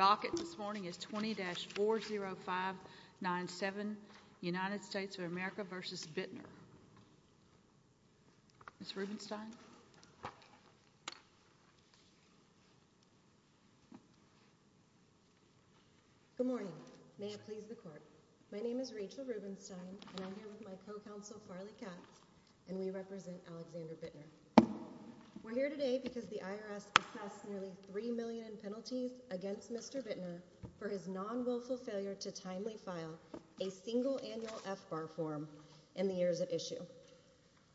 Good morning. May it please the court. My name is Rachel Rubenstein and I'm here with my co-counsel Farley Katz, and we represent Alexander Bittner. We're here today because the IRS has passed nearly 3 million penalties against Mr. Bittner for his non-wilful failure to timely file a single annual FBAR form in the years at issue.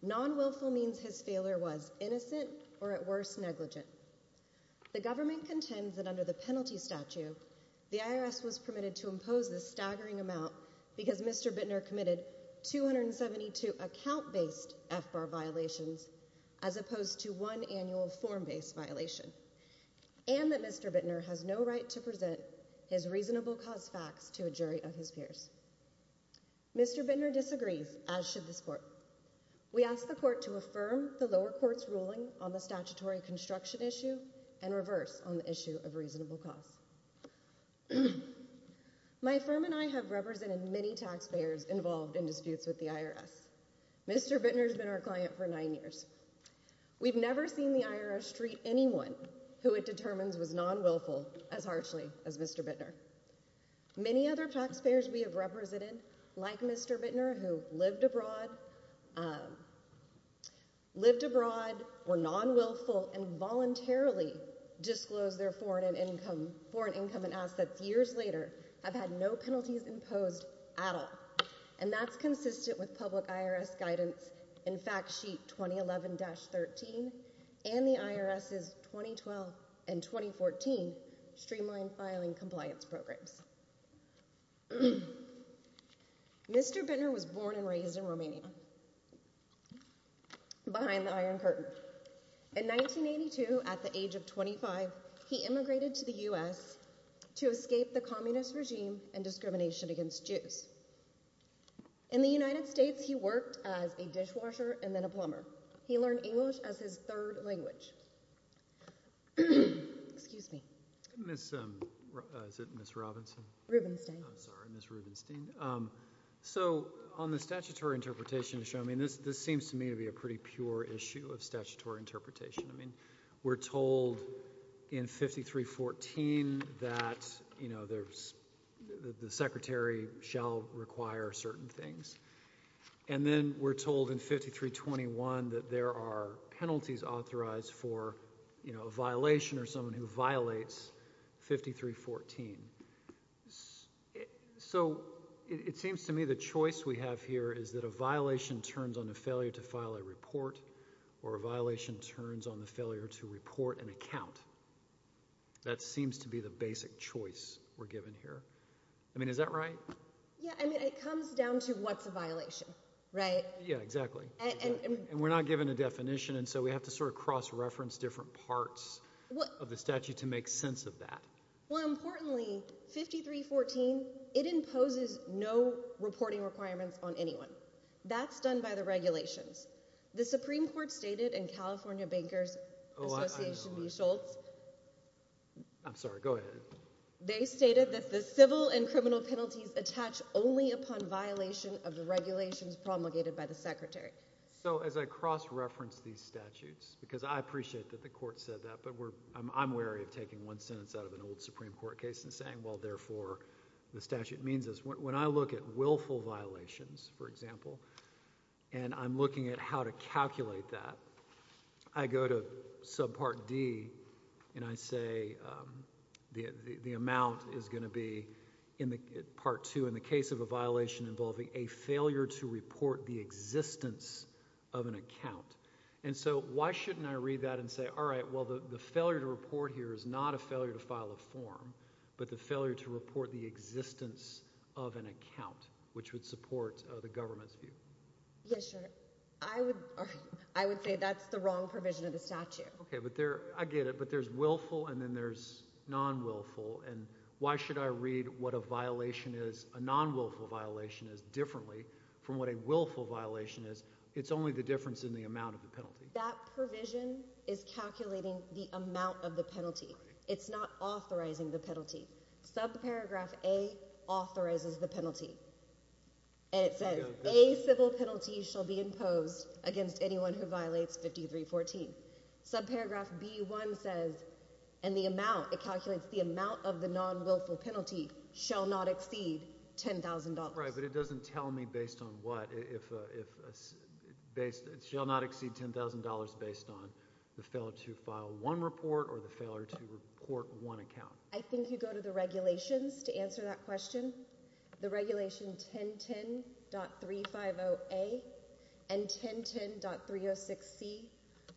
Non-wilful means his failure was innocent or at worst negligent. The government contends that under the penalty statute, the IRS was permitted to impose this staggering amount because Mr. Bittner committed 272 account-based FBAR violations as opposed to one annual form-based violation, and that Mr. Bittner has no right to present his reasonable cause facts to a jury of his peers. Mr. Bittner disagrees, as should this court. We ask the court to affirm the lower court's ruling on the statutory construction issue and reverse on the issue of reasonable cause. My firm and I have represented many taxpayers involved in disputes with the IRS. Mr. Bittner's been our client for nine years. We've never seen the IRS treat anyone who it determines was non-wilful as harshly as Mr. Bittner. Many other taxpayers we have represented, like Mr. Bittner, who lived abroad, lived abroad, were non-wilful, and voluntarily disclosed their foreign income and assets years later, have had no penalties imposed at all. And that's consistent with public IRS guidance in Fact Sheet 2011-13 and the IRS's 2012 and 2014 Streamline Filing Compliance Programs. Mr. Bittner was born and raised in Romania, Romania, behind the Iron Curtain. In 1982, at the age of 25, he immigrated to the U.S. to escape the communist regime and discrimination against Jews. In the United States, he worked as a dishwasher and then a plumber. He learned English as his third language. Excuse me. Ms. Robinson? Rubenstein. I'm sorry, Ms. Rubenstein. So, on the statutory interpretation to show, I mean, this seems to me to be a pretty pure issue of statutory interpretation. I mean, we're told in 53-14 that, you know, the Secretary shall require certain things. And then we're told in 53-21 that there are penalties authorized for, you know, a violation or someone who violates 53-14. So, it seems to me the choice we have here is that a violation turns on a failure to file a report or a violation turns on the failure to report an account. That seems to be the basic choice we're given here. I mean, is that right? Yeah, I mean, it comes down to what's a violation, right? Yeah, exactly. And we're not given a definition, so we have to sort of cross-reference different parts of the statute to make sense of that. More importantly, 53-14, it imposes no reporting requirements on anyone. That's done by the regulations. The Supreme Court stated in California Bankers Association v. Schultz, I'm sorry, go ahead. They stated that the civil and criminal penalties attach only upon violation of the regulations promulgated by the Secretary. So, as I cross-reference these statutes, because I appreciate that the Court said that, but I'm wary of taking one sentence out of an old Supreme Court case and saying, well, therefore, the statute means this. When I look at willful violations, for example, and I'm looking at how to calculate that, I go to subpart D and I say, the amount is going to be, in part two, in the case of a violation involving a failure to report the existence of an account. And so, why shouldn't I read that and say, all right, well, the failure to report here is not a failure to file a form, but the failure to report the existence of an account, which would support the government's view. Yeah, sure. I would say that's the wrong provision of the statute. Okay, but there, I get it, but there's willful and then there's non-willful, and why should I read what a violation is, a non-willful violation is, differently from what a willful violation is? It's only the difference in the amount of the penalty. That provision is calculating the amount of the penalty. It's not authorizing the penalty. Subparagraph A authorizes the penalty. And it says, a civil penalty shall be imposed against anyone who violates 5314. Subparagraph B1 says, and the amount, it calculates the amount of the non-willful penalty shall not exceed $10,000. Right, but it doesn't tell me based on what, if, based, it shall not exceed $10,000 based on the failure to file one report or the failure to report one account. I think you go to the regulations to answer that question. The regulation 1010.350A and 1010.306C,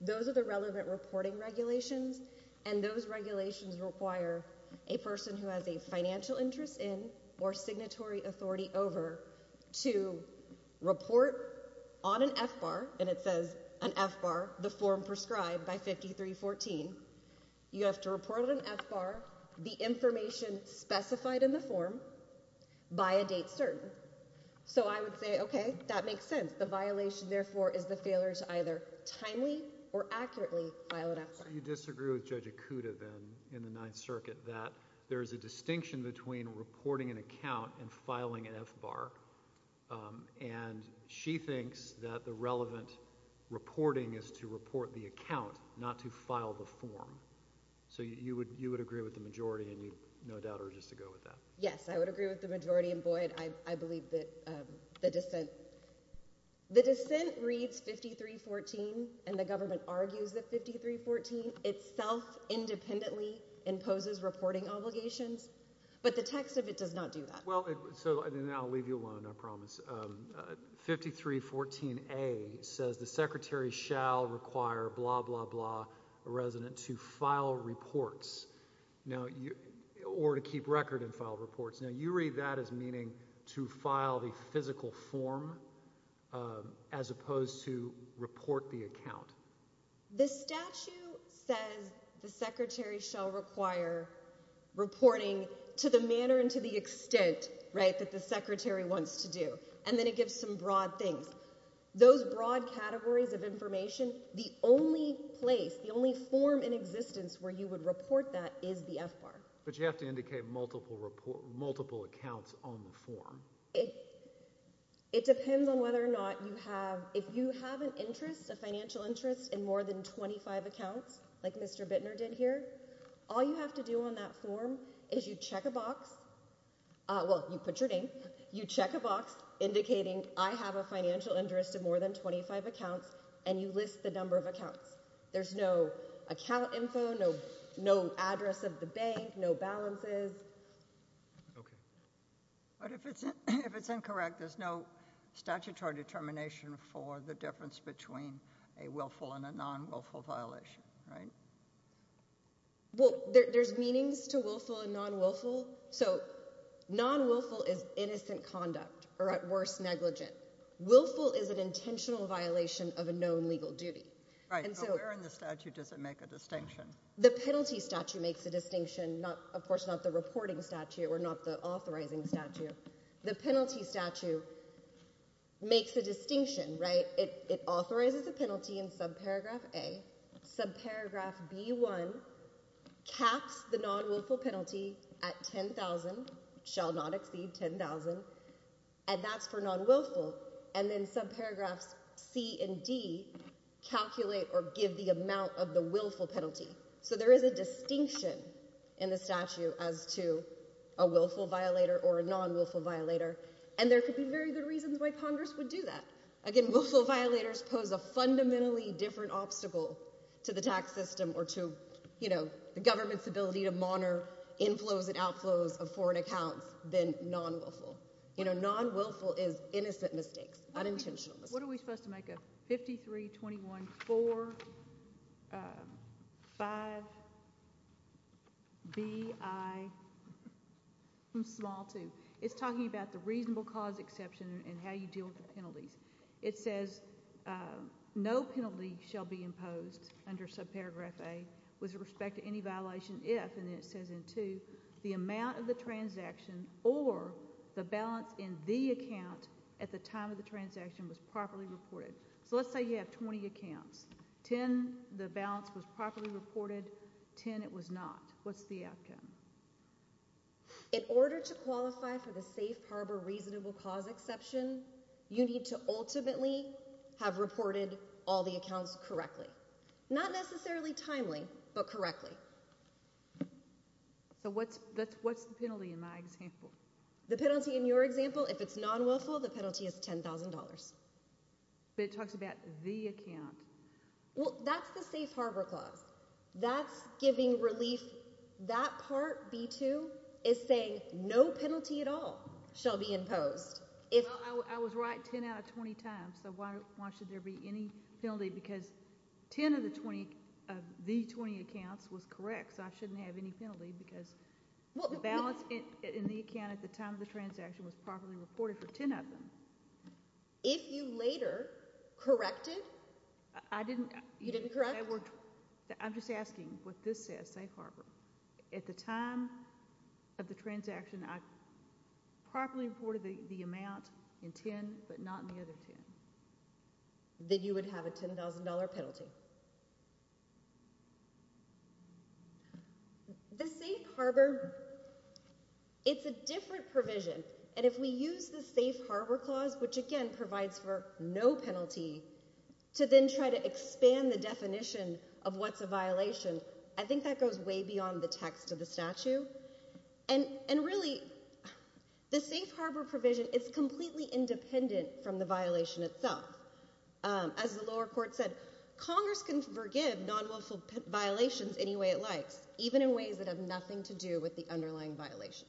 those are the relevant reporting regulations, and those regulations require a person who has a financial interest in or signatory authority over to report on an F-bar, and it says, an F-bar, the form prescribed by 5314. You have to report on an F-bar the failure. So I would say, okay, that makes sense. The violation, therefore, is the failure to either timely or accurately file an F-bar. So you disagree with Judge Ikuda, then, in the Ninth Circuit, that there is a distinction between reporting an account and filing an F-bar, and she thinks that the relevant reporting is to report the account, not to file the form. So you would agree with the majority, and you, no doubt, are just to go with that. Yes, I would agree with the majority in void. I believe that the dissent, the dissent reads 5314, and the government argues that 5314 itself independently imposes reporting obligations, but the text of it does not do that. Well, so then I'll leave you alone, I promise. 5314A says the Secretary shall require blah, blah, blah, a resident to file reports, now, or to keep record and file reports. Now, you read that as meaning to file the physical form as opposed to report the account. The statute says the Secretary shall require reporting to the manner and to the extent, right, that the Secretary wants to do, and then it gives some broad things. Those broad categories of information, the only place, the only form in existence where you would report that is the F-bar. But you have to indicate multiple accounts on the form. It depends on whether or not you have, if you have an interest, a financial interest in more than 25 accounts, like Mr. Bittner did here, all you have to do on that form is you check a box, well, you put your name, you check a box indicating I have a financial interest in more than 25 accounts, and you list the number of accounts. There's no account info, no address of the bank, no balances. Okay. But if it's incorrect, there's no statutory determination for the difference between a willful and a non-willful violation, right? Well, there's meanings to willful and non-willful. So non-willful is innocent conduct, or at worst, negligent. Willful is an intentional violation of a known legal duty. Right. So where in the statute does it make a distinction? The penalty statute makes a distinction, of course, not the reporting statute or not the authorizing statute. The penalty statute makes a distinction, right? It authorizes a penalty in subparagraph A. Subparagraph B1 caps the non-willful penalty at 10,000, shall not exceed 10,000, and that's for non-willful. And then subparagraphs C and D calculate or give the amount of the willful penalty. So there is a distinction in the statute as to a willful violator or a non-willful violator. And there could be very good reasons why Congress would do that. Again, willful violators pose a fundamentally different obstacle to the tax system or to the government's ability to monitor inflows and outflows of foreign accounts than non-willful. You know, non-willful is innocent mistakes, unintentional mistakes. What are we supposed to make of 532145BI2? It's talking about the reasonable cause exception and how you deal with the penalties. It says no penalty shall be imposed under subparagraph A with respect to any transaction or the balance in the account at the time of the transaction was properly reported. So let's say you have 20 accounts. 10, the balance was properly reported. 10, it was not. What's the outcome? In order to qualify for the safe harbor reasonable cause exception, you need to ultimately have reported all the accounts correctly. Not necessarily timely, but correctly. So what's the penalty in my example? The penalty in your example, if it's non-willful, the penalty is $10,000. But it talks about the account. Well, that's the safe harbor clause. That's giving relief. That part, B2, is saying no penalty at all shall be imposed. I was right 10 out of 20 times, so why should there be any penalty? Because 10 of the 20 of the 20 accounts was correct, so I shouldn't have any penalty because the balance in the account at the time of the transaction was properly reported for 10 of them. If you later corrected? I didn't. You didn't correct? I'm just asking what this says, safe harbor. At the time of the transaction, I properly reported the amount in 10, but not in the other 10. Then you would have a $10,000 penalty. The safe harbor, it's a different provision, and if we use the safe harbor clause, which again provides for no penalty, to then try to expand the definition of what's a violation, I think that goes way beyond the text of the statute. And really, the safe harbor provision is completely independent from the violation itself. As the lower court said, Congress can forgive non-wilful violations any way it likes, even in ways that have nothing to do with the underlying violation.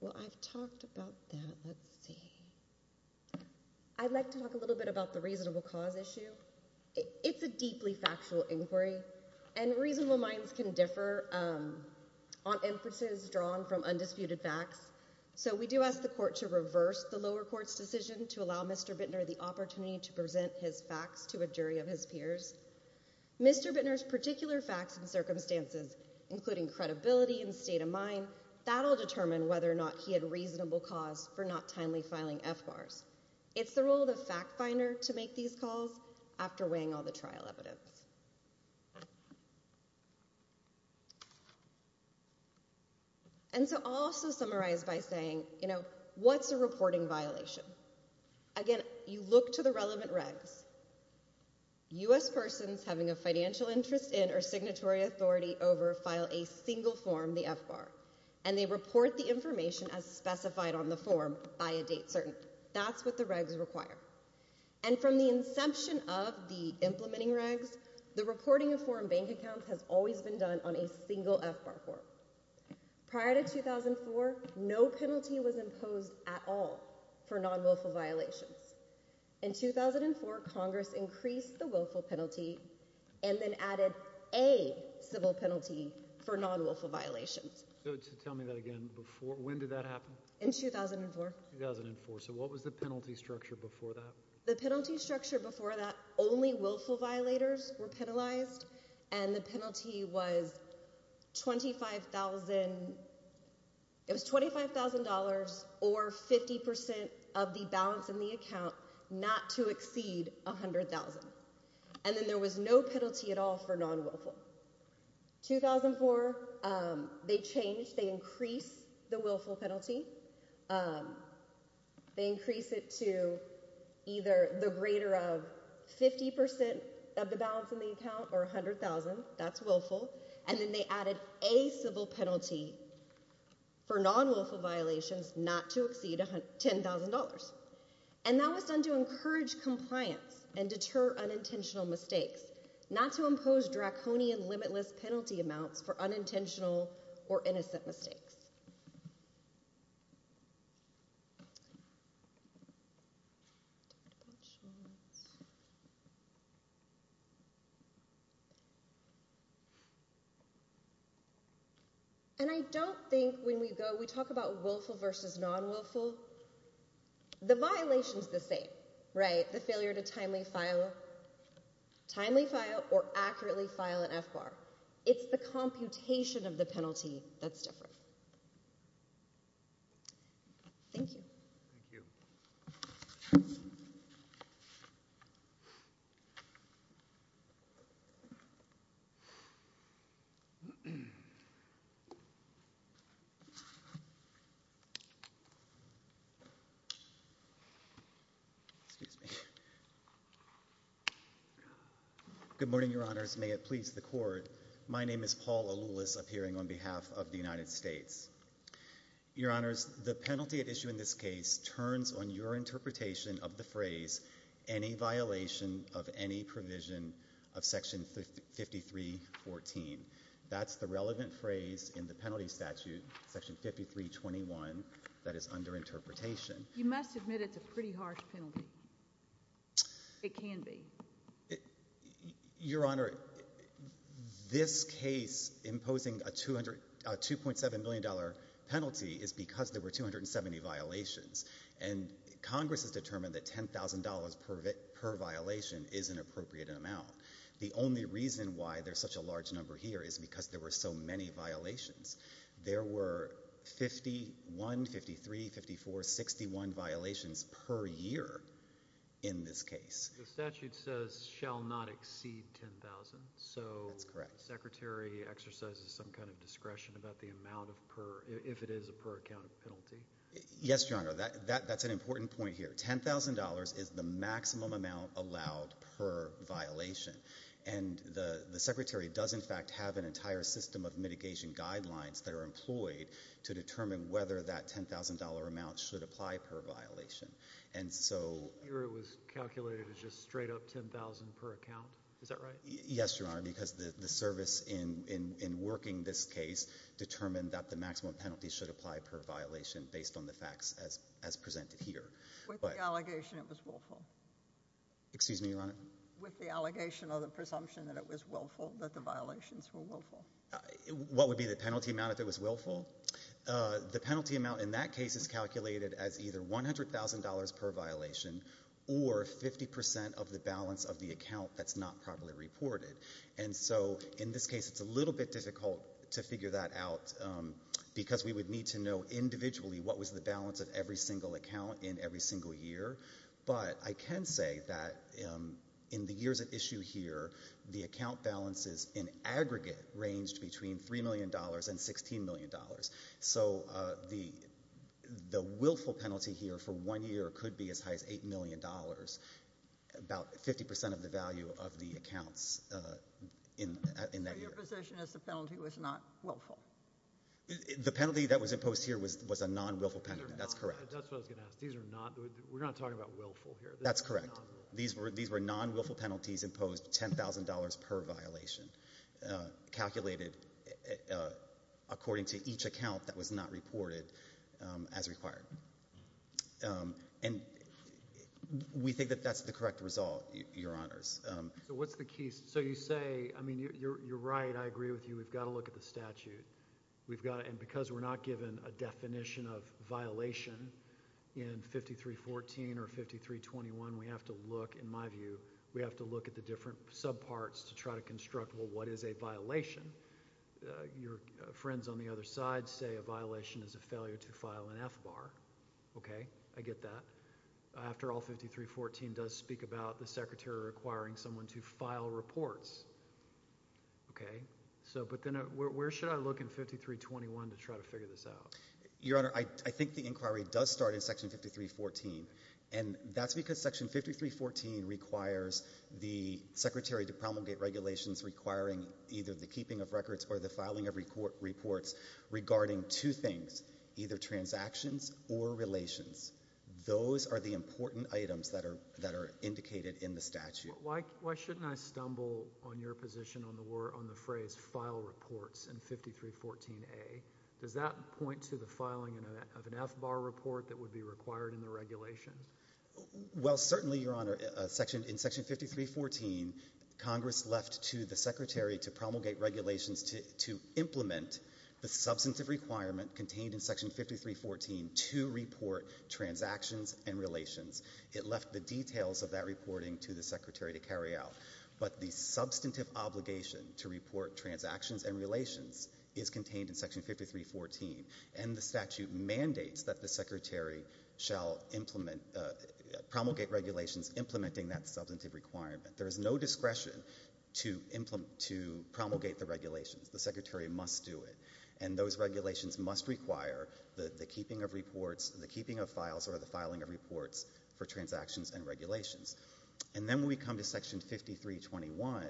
Well, I've talked about that. Let's see. I'd like to talk a little bit about the reasonable cause issue. It's a deeply factual inquiry, and reasonable minds can differ on emphasis drawn from undisputed facts, so we do ask the court to reverse the lower court's decision to allow Mr. Bittner the opportunity to present his facts to a jury of his peers. Mr. Bittner's particular facts and circumstances, including credibility and state of mind, that'll determine whether or not he had after weighing all the trial evidence. And so I'll also summarize by saying, you know, what's a reporting violation? Again, you look to the relevant regs. U.S. persons having a financial interest in or signatory authority over file a single form, the FBAR, and they report the information as specified on the form by a date that's what the regs require. And from the inception of the implementing regs, the reporting of foreign bank accounts has always been done on a single FBAR form. Prior to 2004, no penalty was imposed at all for non-wilful violations. In 2004, Congress increased the willful penalty and then added a civil penalty for non-wilful violations. So tell me that again, when did that happen? In 2004. So what was the penalty structure before that? The penalty structure before that, only willful violators were penalized and the penalty was $25,000 or 50% of the balance in the account not to exceed $100,000. And then there was no penalty at all for non-wilful. In 2004, they changed, they increased the willful penalty. They increased it to either the greater of 50% of the balance in the account or $100,000. That's willful. And then they added a civil penalty for non-wilful violations not to exceed $10,000. And that was done to encourage compliance and deter unintentional mistakes, not to impose draconian limitless penalty amounts for unintentional or innocent mistakes. And I don't think when we go, we talk about willful versus non-wilful. The violation is the same, right? The failure to timely file, timely file or accurately file an F-bar. It's the computation of the penalty that's different. Thank you. Thank you. Excuse me. Good morning, your honors. May it please the court. My name is Paul Aloulis appearing on behalf of the United States. Your honors, the penalty at issue in this case turns on your interpretation of the phrase, any violation of any provision of section 5314. That's the relevant phrase in the penalty statute, section 5321 that is under interpretation. You must admit it's a pretty harsh penalty. It can be. It, your honor, this case imposing a 200, a $2.7 million penalty is because there were 270 violations and Congress has determined that $10,000 per violation is an appropriate amount. The only reason why there's such a large number here is because there were so many violations. There were 51, 53, 54, 61 violations per year in this case. The statute says shall not exceed 10,000. So that's correct. Secretary exercises some kind of discretion about the amount of per, if it is a per account of penalty. Yes, your honor. That, that, that's an important point here. $10,000 is the maximum amount allowed per violation. And the, the secretary does in fact have an entire system of mitigation guidelines that are employed to determine whether that $10,000 amount should apply per violation. And so it was calculated as just straight up $10,000 per account. Is that right? Yes, your honor. Because the, the service in, in, in working this case determined that the maximum penalty should apply per violation based on the facts as, as presented here. With the allegation it was willful. Excuse me, your honor. With the allegation or the presumption that it was willful, that the violations were willful. What would be the penalty amount if it was willful? Uh, the penalty amount in that case is calculated as either $100,000 per violation or 50% of the balance of the account that's not properly reported. And so in this case, it's a little bit difficult to figure that out because we would need to know individually what was the balance of every single account in every single year. But I can say that, um, in the years at issue here, the account balances in aggregate ranged between $3 million and $16 million. So, uh, the, the willful penalty here for one year could be as high as $8 million, about 50% of the value of the accounts, uh, in, in that year. So your position is the penalty was not willful? The penalty that was imposed here was, was a non-willful penalty. That's correct. That's what I was going to ask. These are not, we're not talking about willful here. That's correct. These were, these were non-willful penalties imposed $10,000 per violation, uh, calculated, uh, uh, according to each account that was not reported, um, as required. Um, and we think that that's the correct result, your honors. So what's the key? So you say, I mean, you're, you're, you're right. I agree with you. We've got to look at the statute we've got. And because we're not given a definition of violation in 5314 or 5321, we have to look, in my view, we have to look at the different sub parts to try to construct what is a violation. Uh, your friends on the other side say a violation is a failure to file an F-bar. Okay. I get that. After all 5314 does speak about the secretary requiring someone to file reports. Okay. So, but then where should I look in 5321 to try to figure this out? Your honor, I, I think the inquiry does start in section 5314 and that's because section 5314 requires the secretary to promulgate regulations requiring either the keeping of records or the filing of report reports regarding two things, either transactions or relations. Those are the important items that are, that are indicated in the statute. Why, why shouldn't I stumble on your position on the word, on the phrase file reports in 5314A? Does that point to the filing of an F-bar report that would be required in the regulations? Well, certainly your honor, section, in section 5314, Congress left to the secretary to promulgate regulations to, to implement the substantive requirement contained in section 5314 to report transactions and relations. It left the details of that reporting to the secretary to carry out, but the substantive obligation to report transactions and relations is contained in section 5314 and the statute mandates that the secretary shall implement, uh, promulgate regulations implementing that substantive requirement. There is no discretion to implement, to promulgate the regulations. The secretary must do it and those regulations must require the, the keeping of reports, the keeping of files or the filing of reports for transactions and regulations. And then we come to section 5321,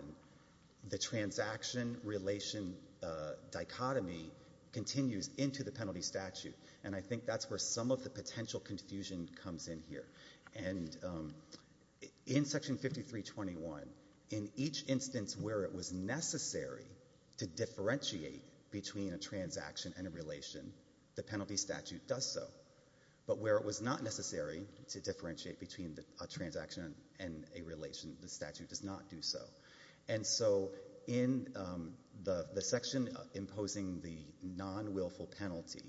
the transaction relation, uh, dichotomy continues into the penalty statute and I think that's where some of the potential confusion comes in here. And, um, in section 5321, in each instance where it was necessary to differentiate between a transaction and a but where it was not necessary to differentiate between a transaction and a relation, the statute does not do so. And so in, um, the, the section imposing the non-willful penalty,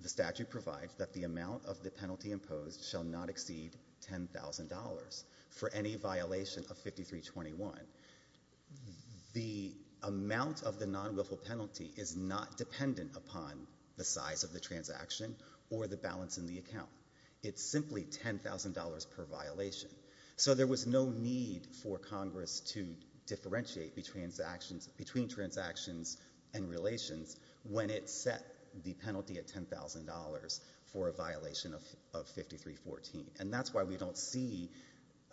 the statute provides that the amount of the penalty imposed shall not exceed $10,000 for any violation of 5321. The amount of the non-willful penalty is not dependent upon the size of the transaction or the balance in the account. It's simply $10,000 per violation. So there was no need for Congress to differentiate between transactions, between transactions and relations when it set the penalty at $10,000 for a violation of, of 5314. And that's why we don't see,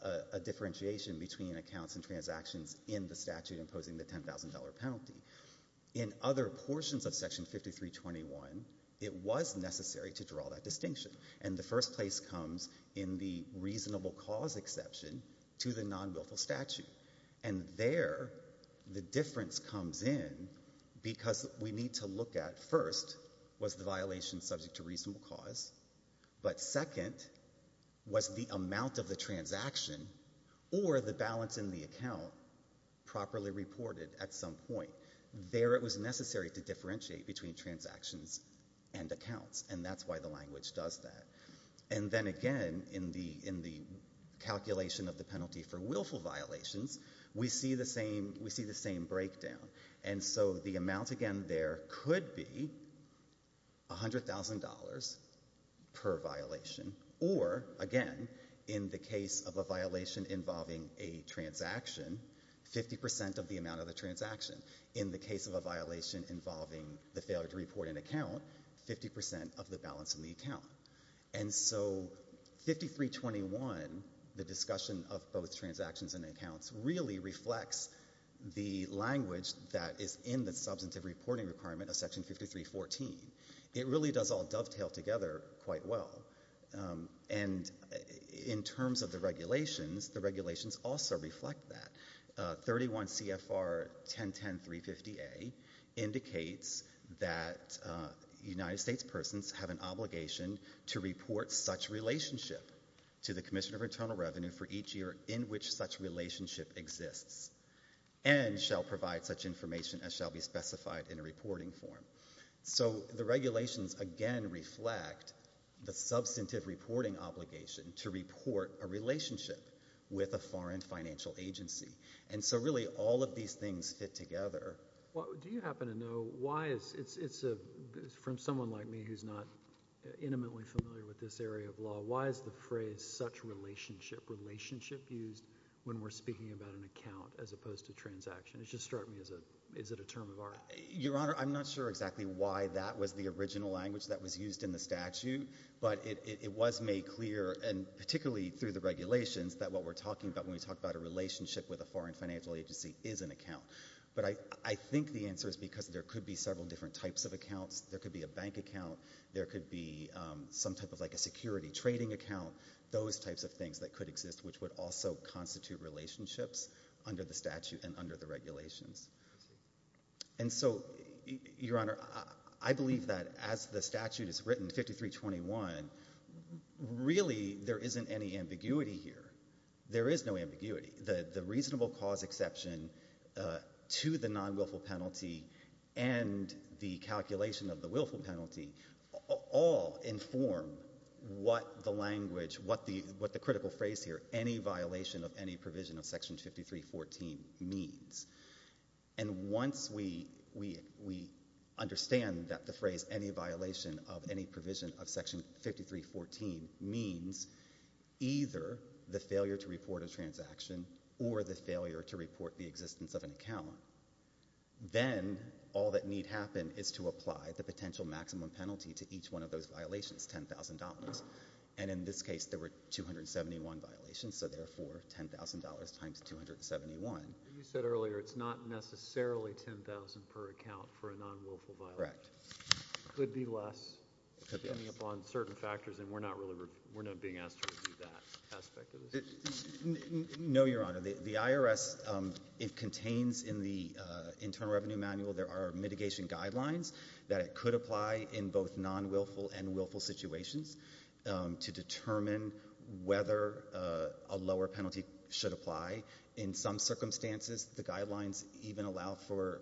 uh, a differentiation between accounts and transactions in the statute imposing the $10,000 penalty. In other portions of section 5321, it was necessary to draw that distinction. And the first place comes in the reasonable cause exception to the non-willful statute. And there, the difference comes in because we need to look at, first, was the violation subject to reasonable cause? But second, was the amount of the transaction or the balance in the account properly reported at some point? There, it was necessary to differentiate between transactions and accounts. And that's why the language does that. And then again, in the, in the calculation of the penalty for willful violations, we see the same, we see the same breakdown. And so the amount, again, there could be $100,000 per violation. Or, again, in the case of a violation involving a transaction, 50% of the amount of the transaction. In the case of a violation involving the failure to report an account, 50% of the balance in the account. And so 5321, the discussion of both transactions and accounts, really reflects the language that is in the substantive reporting requirement of section 5314. It really does all dovetail together quite well. And in terms of the regulations, the regulations also reflect that. 31 CFR 1010-350A indicates that United States persons have an obligation to report such relationship to the Commission of Internal Revenue for each year in which such relationship exists and shall provide such information as shall be specified in a reporting form. So the regulations, again, reflect the substantive reporting obligation to report a relationship with a foreign financial agency. And so really all of these things fit together. Do you happen to know why it's, it's a, from someone like me who's not intimately familiar with this area of law, why is the phrase such relationship, relationship used when we're speaking about an account as opposed to transaction? It just struck me as a, is it a term of art? Your Honor, I'm not sure exactly why that was the original language that was used in the statute, but it was made clear, and particularly through the regulations, that what we're talking about when we talk about a relationship with a foreign financial agency is an account. But I think the answer is because there could be several different types of accounts. There could be a bank account, there could be some type of like a security trading account, those types of things that could exist which would also constitute relationships under the statute and under the regulations. And so, Your Honor, I believe that as the statute is written, 5321, really there isn't any ambiguity here. There is no ambiguity. The, the reasonable cause exception to the non-wilful penalty and the calculation of the willful penalty all inform what the language, what the, what the critical phrase here, any violation of any provision of Section 5314 means. And once we, we, we understand that the phrase any violation of any provision of Section 5314 means either the failure to report a transaction or the failure to report the existence of an account, then all that need happen is to apply the potential maximum penalty to each one of those violations, $10,000. And in this case, there were 271 violations, so therefore, $10,000 times 271. You said earlier it's not necessarily $10,000 per account for a non-wilful violation. Correct. It could be less, depending upon certain factors, and we're not really, we're not being asked to review that aspect of the statute. No, Your Honor. The IRS, it contains in the Internal Revenue Manual, there are mitigation guidelines that it could apply in both non-wilful and willful situations to determine whether a lower penalty should apply. In some circumstances, the guidelines even allow for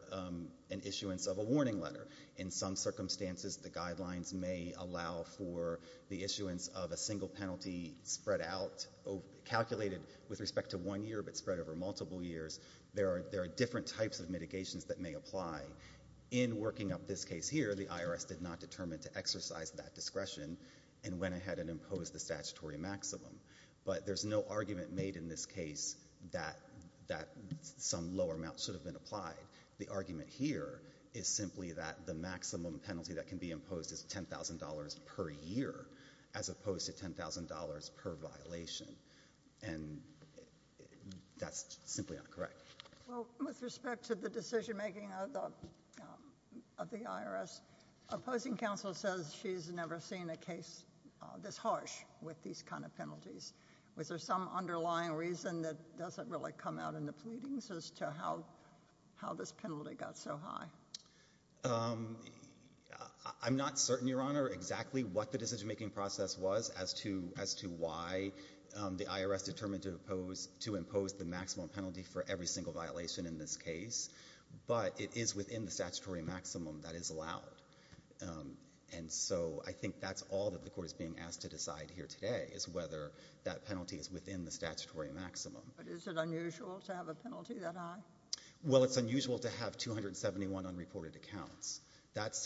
an issuance of a warning letter. In some circumstances, the guidelines may allow for the issuance of a single penalty spread out, calculated with respect to one year, but spread over multiple years. There are different types of mitigations that may apply. In working up this case here, the IRS did not determine to exercise that discretion and went ahead and imposed the statutory maximum, but there's no argument made in this case that some lower amount should have been applied. The argument here is simply that the maximum penalty that can be imposed is $10,000 per year, as opposed to $10,000 per violation, and that's simply not correct. Well, with respect to the decision-making of the IRS, opposing counsel says she's never seen a case this harsh with these kind of penalties. Was there some underlying reason that doesn't really come out in the pleadings as to how this penalty got so high? I'm not certain, Your Honor, exactly what the decision-making process was as to why the IRS determined to impose the maximum penalty for every single violation in this case, but it is within the statutory maximum that is allowed, and so I think that's all that the Court is being asked to decide here today, is whether that penalty is within the statutory maximum that can be imposed. I don't know if that's something that came into account in this case, but this is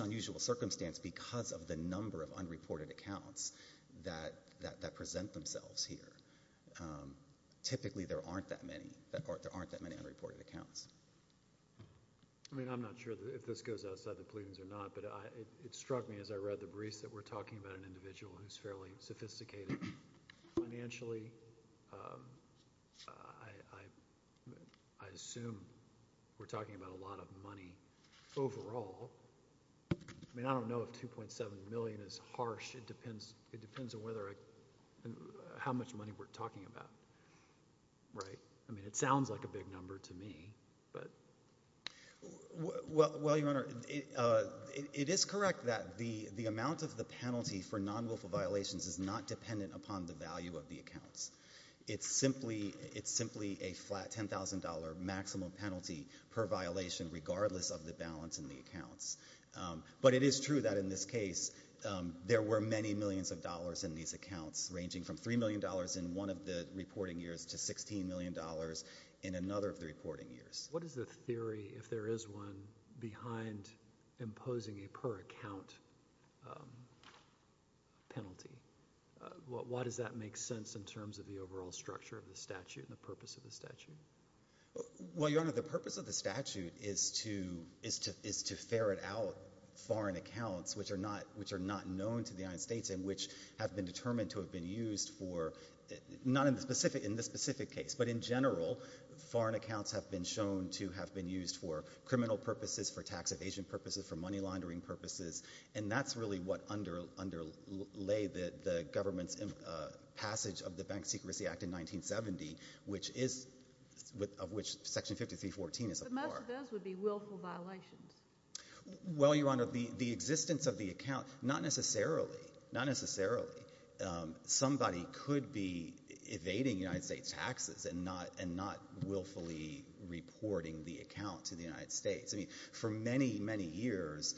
an unusual circumstance because of the number of unreported accounts that present themselves here. Typically, there aren't that many unreported accounts. I mean, I'm not sure if this goes outside the pleadings or not, but it struck me as I read the briefs that we're talking about an individual who's fairly sophisticated financially. I assume we're talking about a lot of money overall. I mean, I don't know if $2.7 million is harsh. It depends on how much money we're talking about, right? I mean, it sounds like a big number to me, but... Well, Your Honor, it is correct that the amount of the penalty for it is $2.7 million. It's simply a flat $10,000 maximum penalty per violation regardless of the balance in the accounts, but it is true that in this case there were many millions of dollars in these accounts, ranging from $3 million in one of the reporting years to $16 million in another of the reporting years. What is the theory, if there is one, behind imposing a per penalty? Why does that make sense in terms of the overall structure of the statute and the purpose of the statute? Well, Your Honor, the purpose of the statute is to ferret out foreign accounts which are not known to the United States and which have been determined to have been used for... not in this specific case, but in general, foreign accounts have been shown to have been used for criminal purposes, for tax evasion purposes, for money laundering purposes, and that's really what underlay the government's passage of the Bank Secrecy Act in 1970, of which Section 5314 is a part. But most of those would be willful violations. Well, Your Honor, the existence of the account... not necessarily. Somebody could be evading United States taxes and not willfully reporting the account to the United States. I mean, for many, many years,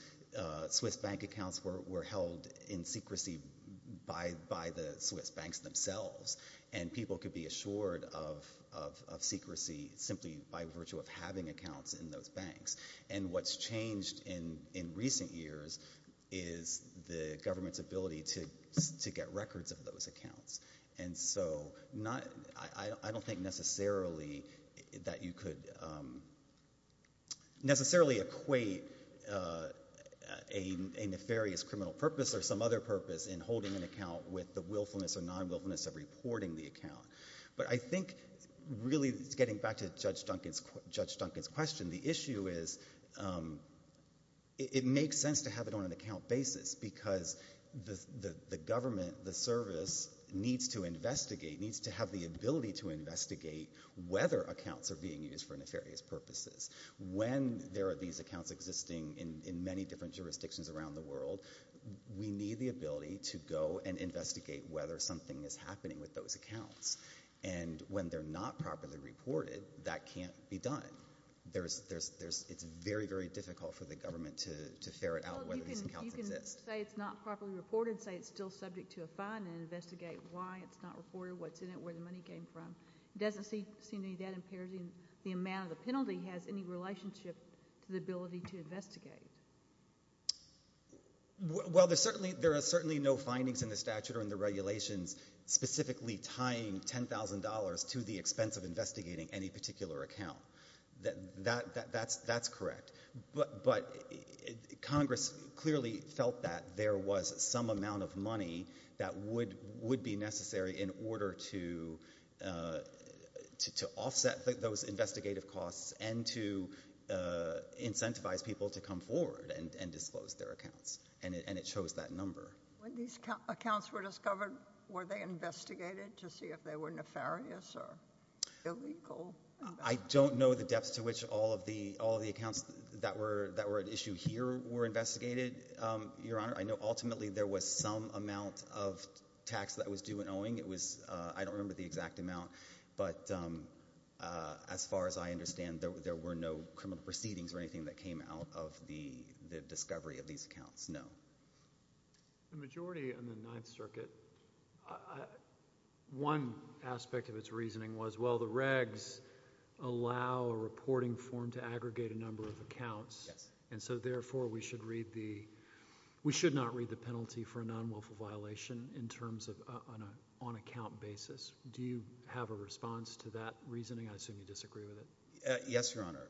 Swiss bank accounts were held in secrecy by the Swiss banks themselves, and people could be assured of secrecy simply by virtue of having accounts in those banks. And what's changed in recent years is the government's ability to get records of those accounts and to equate a nefarious criminal purpose or some other purpose in holding an account with the willfulness or non-willfulness of reporting the account. But I think, really, getting back to Judge Duncan's question, the issue is it makes sense to have it on an account basis, because the government, the service, needs to investigate, needs to have the ability to investigate whether accounts are being used for nefarious purposes. When there are these accounts existing in many different jurisdictions around the world, we need the ability to go and investigate whether something is happening with those accounts. And when they're not properly reported, that can't be done. There's... it's very, very difficult for the government to ferret out whether these accounts exist. You can say it's not properly reported, say it's still subject to a fine, and investigate why it's not reported, what's in it, where the money came from. It doesn't seem to be that imperative. The amount of the penalty has any relationship to the ability to investigate. Well, there are certainly no findings in the statute or in the regulations specifically tying $10,000 to the expense of investigating any particular account. That's correct. But Congress clearly felt that there was some amount of money that would be necessary in order to offset those investigative costs and to incentivize people to come forward and disclose their accounts. And it shows that number. When these accounts were discovered, were they investigated to see if they were nefarious or illegal? I don't know the depths to which all of the accounts that were at issue here were investigated, Your Honor. I know ultimately there was some amount of tax that was due in Owing. I don't remember the exact amount, but as far as I understand, there were no criminal proceedings or anything that came out of the discovery of these accounts, no. The majority in the Ninth Circuit, one aspect of its reasoning was, well, the regs allow a reporting form to aggregate a number of accounts, and so therefore we should not read the penalty for a non-wilful violation on an account basis. Do you have a response to that reasoning? I assume you disagree with it. Yes, Your Honor.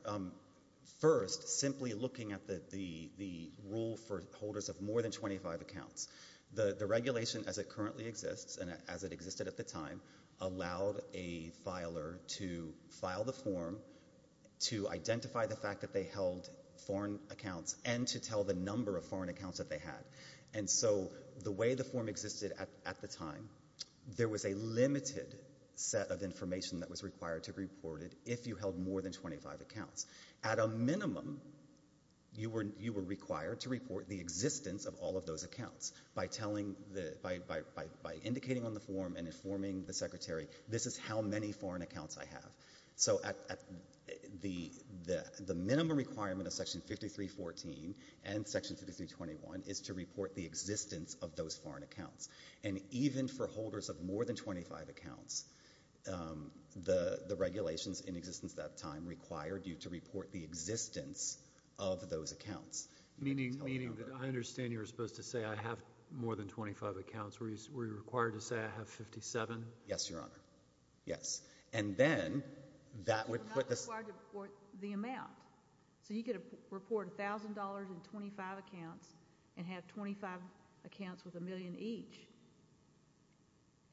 First, simply looking at the rule for holders of more than 25 accounts, the regulation as it currently exists and as it existed at the time allowed a filer to file the form to identify the fact that they held foreign accounts and to tell the number of foreign accounts that they had. And so the way the form existed at the time, there was a limited set of information that was required to be reported if you held more than 25 accounts. At a minimum, you were required to report the existence of all of those accounts by indicating on the form and informing the Secretary, this is how many foreign accounts I have. So the minimum requirement of Section 5314 and Section 5321 is to report the existence of those foreign accounts. And even for holders of more than 25 accounts, the regulations in existence at that time required you to report the existence of those accounts. Meaning that I understand you're supposed to say I have more than 25 accounts. Were you required to say I have 57? Yes, Your Honor. Yes. And then that would put the amount. So you could report $1,000 in 25 accounts and have 25 accounts with a million each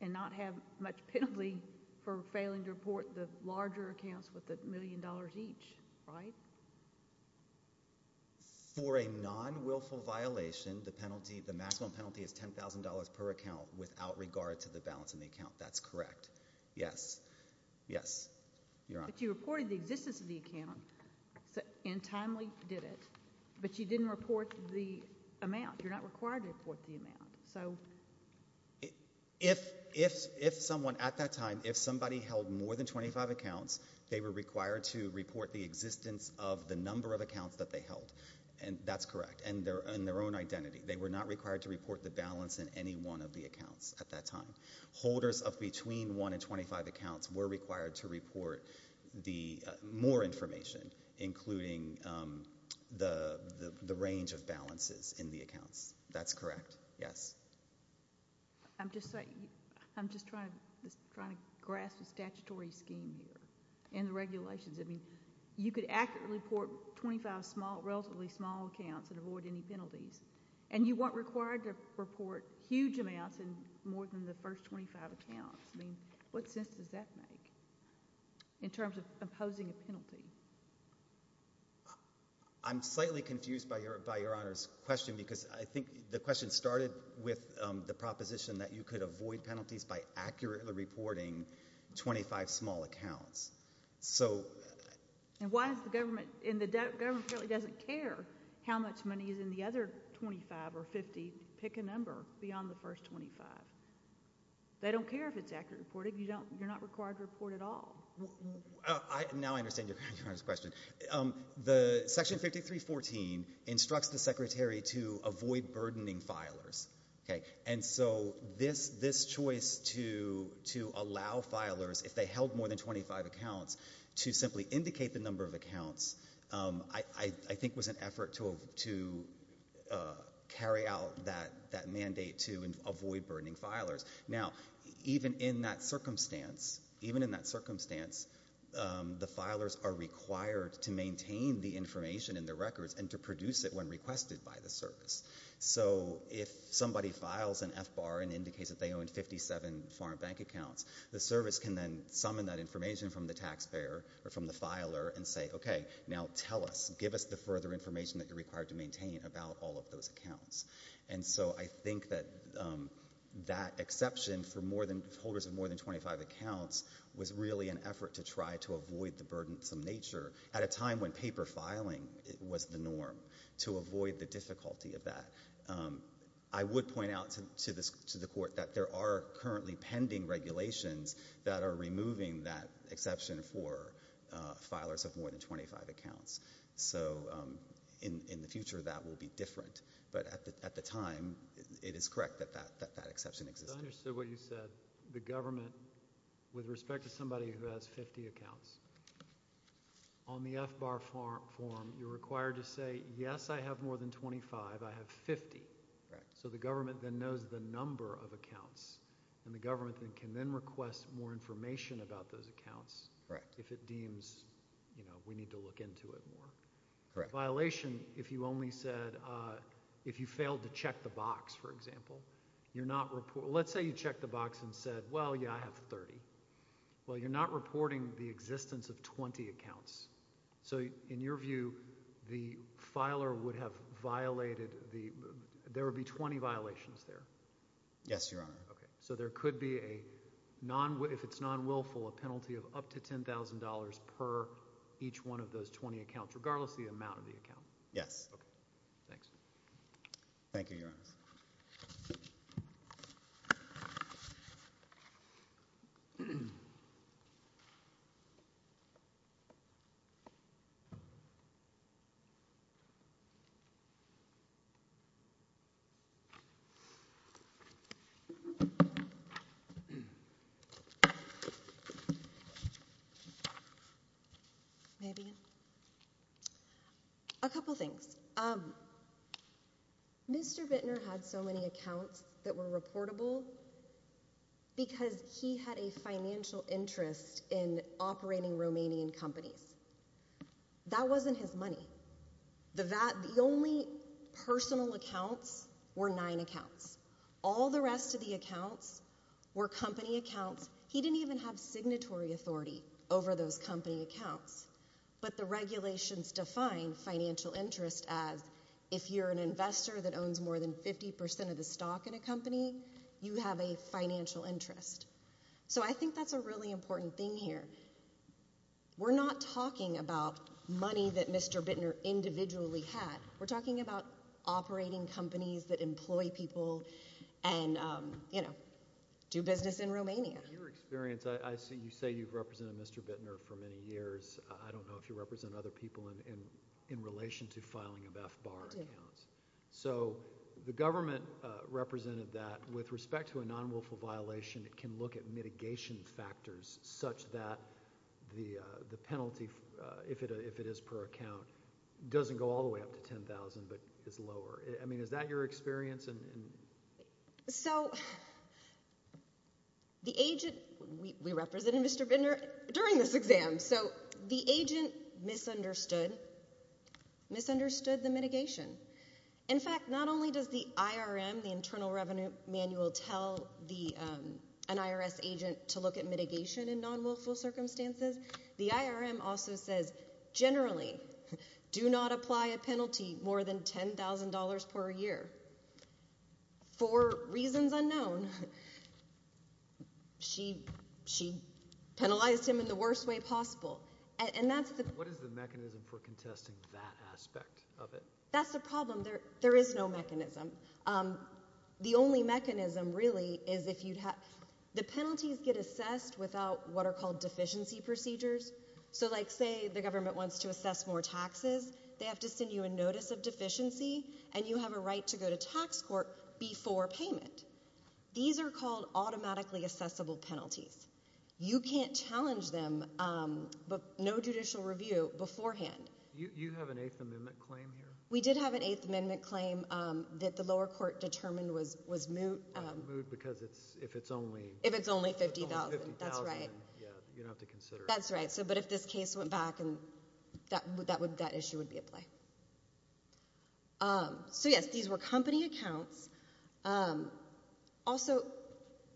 and not have much penalty for failing to report the larger accounts with a million dollars each, right? For a non-wilful violation, the penalty, the maximum penalty is $10,000 per account without regard to the balance in the account. That's correct. Yes. Yes, Your Honor. But you reported the existence of the account and timely did it, but you didn't report the amount. You're not required to report the amount. So if someone at that time, if somebody held more than 25 accounts, they were required to report the existence of the number of accounts that they held, and that's correct, and their own identity. They were not required to report the balance in any one of the accounts at that time. Holders of between 1 and 25 accounts were required to report more information, including the range of balances in the accounts. That's correct. Yes. I'm just trying to grasp the statutory scheme here and the regulations. I mean, you could accurately report 25 relatively small accounts and avoid any penalties, and you weren't required to report huge amounts in more than the first 25 accounts. I mean, what sense does that make in terms of imposing a penalty? I'm slightly confused by Your Honor's question because I think the question started with the proposition that you could avoid penalties by accurately reporting 25 small accounts. So— And why is the government—and the government really doesn't care how much money is in the other 25 or 50. Pick a number beyond the first 25. They don't care if it's accurate reporting. You're not required to report at all. Now I understand Your Honor's question. The Section 5314 instructs the Secretary to avoid burdening filers, and so this choice to allow filers, if they held more than 25 accounts, to simply indicate the number of accounts, I think was an effort to carry out that mandate to avoid burdening filers. Now, even in that circumstance, the filers are required to maintain the information in the records and to produce it when requested by the service. So if somebody files an FBAR and indicates that they own 57 foreign bank accounts, the service can then summon that information from the taxpayer or from the filer and say, okay, now tell us, give us the further information that you're required to maintain about all of those accounts. And so I think that that exception for holders of more than 25 accounts was really an effort to try to avoid the burdensome nature at a time when paper filing was the norm, to avoid the difficulty of that. I would point out to the Court that there are currently pending regulations that are removing that exception for filers of more than 25 accounts. So in the future, that will be different. But at the time, it is correct that that exception existed. I understood what you said. The government, with respect to somebody who has 50 accounts, on the FBAR form, you're required to say, yes, I have more than 25. I have 50. So the government then knows the number of accounts, and the government can then request more information about those accounts if it deems we need to look into it more. Violation, if you only said, if you failed to check the box, for example, you're not reporting, let's say you checked the box and said, well, yeah, I have 30. Well, you're not reporting the existence of 20 accounts. So in your view, the filer would have violated the, there would be 20 violations there. Yes, Your Honor. Okay. So there could be a non, if it's non-willful, a penalty of up to $10,000 per each one of those 20 accounts, regardless of the amount of the account? Yes. Okay. Thanks. Thank you, Your Honor. Maybe. A couple things. Mr. Bittner had so many accounts that were reportable because he had a financial interest in operating Romanian companies. That wasn't his money. The only personal accounts were nine accounts. All the rest of the accounts were company accounts. He didn't even have signatory authority over those company accounts, but the regulations define financial interest as if you're an investor that owns more than 50% of the stock in a company, you have a financial interest. So I think that's a really important thing here. We're not talking about money that Mr. Bittner individually had. We're talking about personal accounts. Your experience, I see you say you've represented Mr. Bittner for many years. I don't know if you represent other people in relation to filing of FBAR accounts. I do. So the government represented that. With respect to a non-willful violation, it can look at mitigation factors such that the penalty, if it is per account, doesn't go all the way up to $10,000, but is lower. I mean, is that your experience? So the agent, we represented Mr. Bittner during this exam, so the agent misunderstood the mitigation. In fact, not only does the IRM, the Internal Revenue Manual, tell an IRS agent to look at mitigation in non-willful circumstances, the IRM also says generally do not apply a for reasons unknown. She penalized him in the worst way possible. What is the mechanism for contesting that aspect of it? That's the problem. There is no mechanism. The only mechanism really is if you'd have, the penalties get assessed without what are called deficiency procedures. So like say the government wants to assess more taxes, they have to send you a notice of before payment. These are called automatically assessable penalties. You can't challenge them, but no judicial review beforehand. You have an Eighth Amendment claim here? We did have an Eighth Amendment claim that the lower court determined was moot. Moot because if it's only... If it's only $50,000, that's right. Yeah, you don't have to consider it. That's right. But if this case went back, that issue would be at play. So yes, these were company accounts. Also,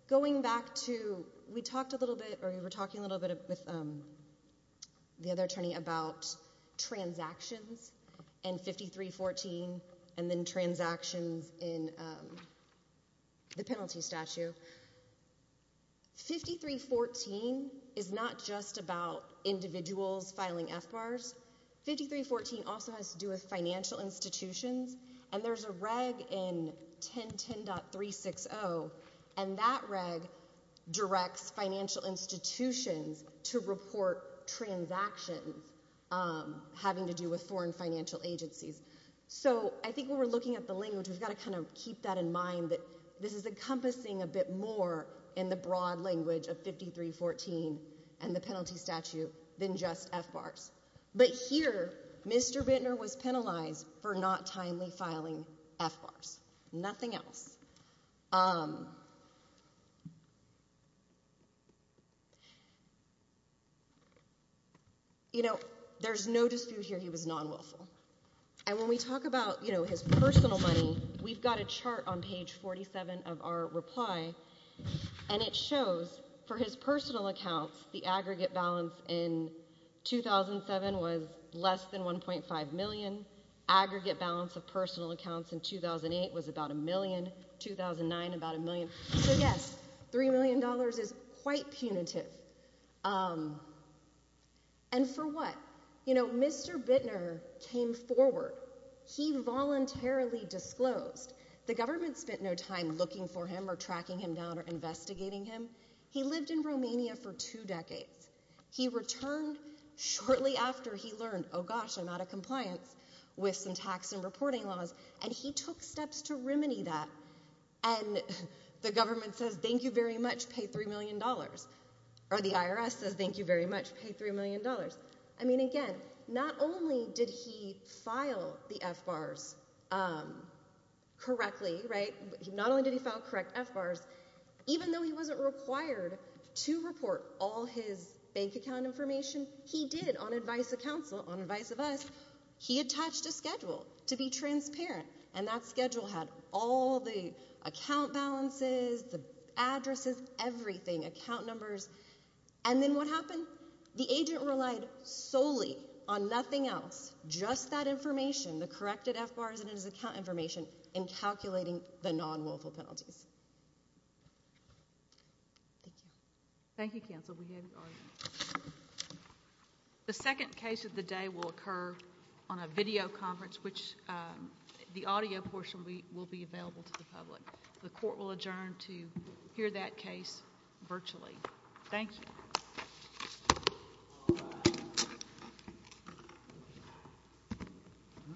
going back to, we talked a little bit, or we were talking a little bit with the other attorney about transactions and 5314 and then transactions in the penalty statute. 5314 is not just about individuals filing FBARs. 5314 also has to do with financial institutions and there's a reg in 1010.360 and that reg directs financial institutions to report transactions having to do with foreign financial agencies. So I think when we're looking at the language, we've got to kind of keep that in mind that this is encompassing a bit more in the broad language of 5314 and the penalty statute than just FBARs. But here, Mr. Bittner was penalized for not timely filing FBARs. Nothing else. You know, there's no dispute here, he was non-wilful. And when we talk about, you know, his personal money, we've got a chart on page 47 of our reply and it shows for his personal accounts, the aggregate balance in 2007 was less than $1.5 million, aggregate balance of personal accounts in 2008 was about $1 million, 2009 about $1 million. So yes, $3 million is quite punitive. And for what? You know, Mr. Bittner came forward. He voluntarily disclosed. The government spent no time looking for him or tracking him down or investigating him. He lived in Romania for two decades. He returned shortly after he learned, oh gosh, I'm out of compliance with some tax and reporting laws. And he took steps to remedy that. And the government says, thank you very much, pay $3 million. Or the IRS says, thank you very much, pay $3 million. I mean, again, not only did he file the FBARs correctly, right, not only did he file correct FBARs, even though he wasn't required to report all his bank account information, he did on advice of counsel, on advice of us, he attached a schedule to be transparent. And that schedule had all the account balances, the addresses, everything, account numbers. And then what happened? The agent relied solely on nothing else, just that information, the corrected FBARs and his account information, in calculating the non-willful penalties. Thank you. Thank you, counsel. The second case of the day will occur on a video conference, which the audio portion will be available to the public. The court will adjourn to hear that case virtually. Thank you. Thank you.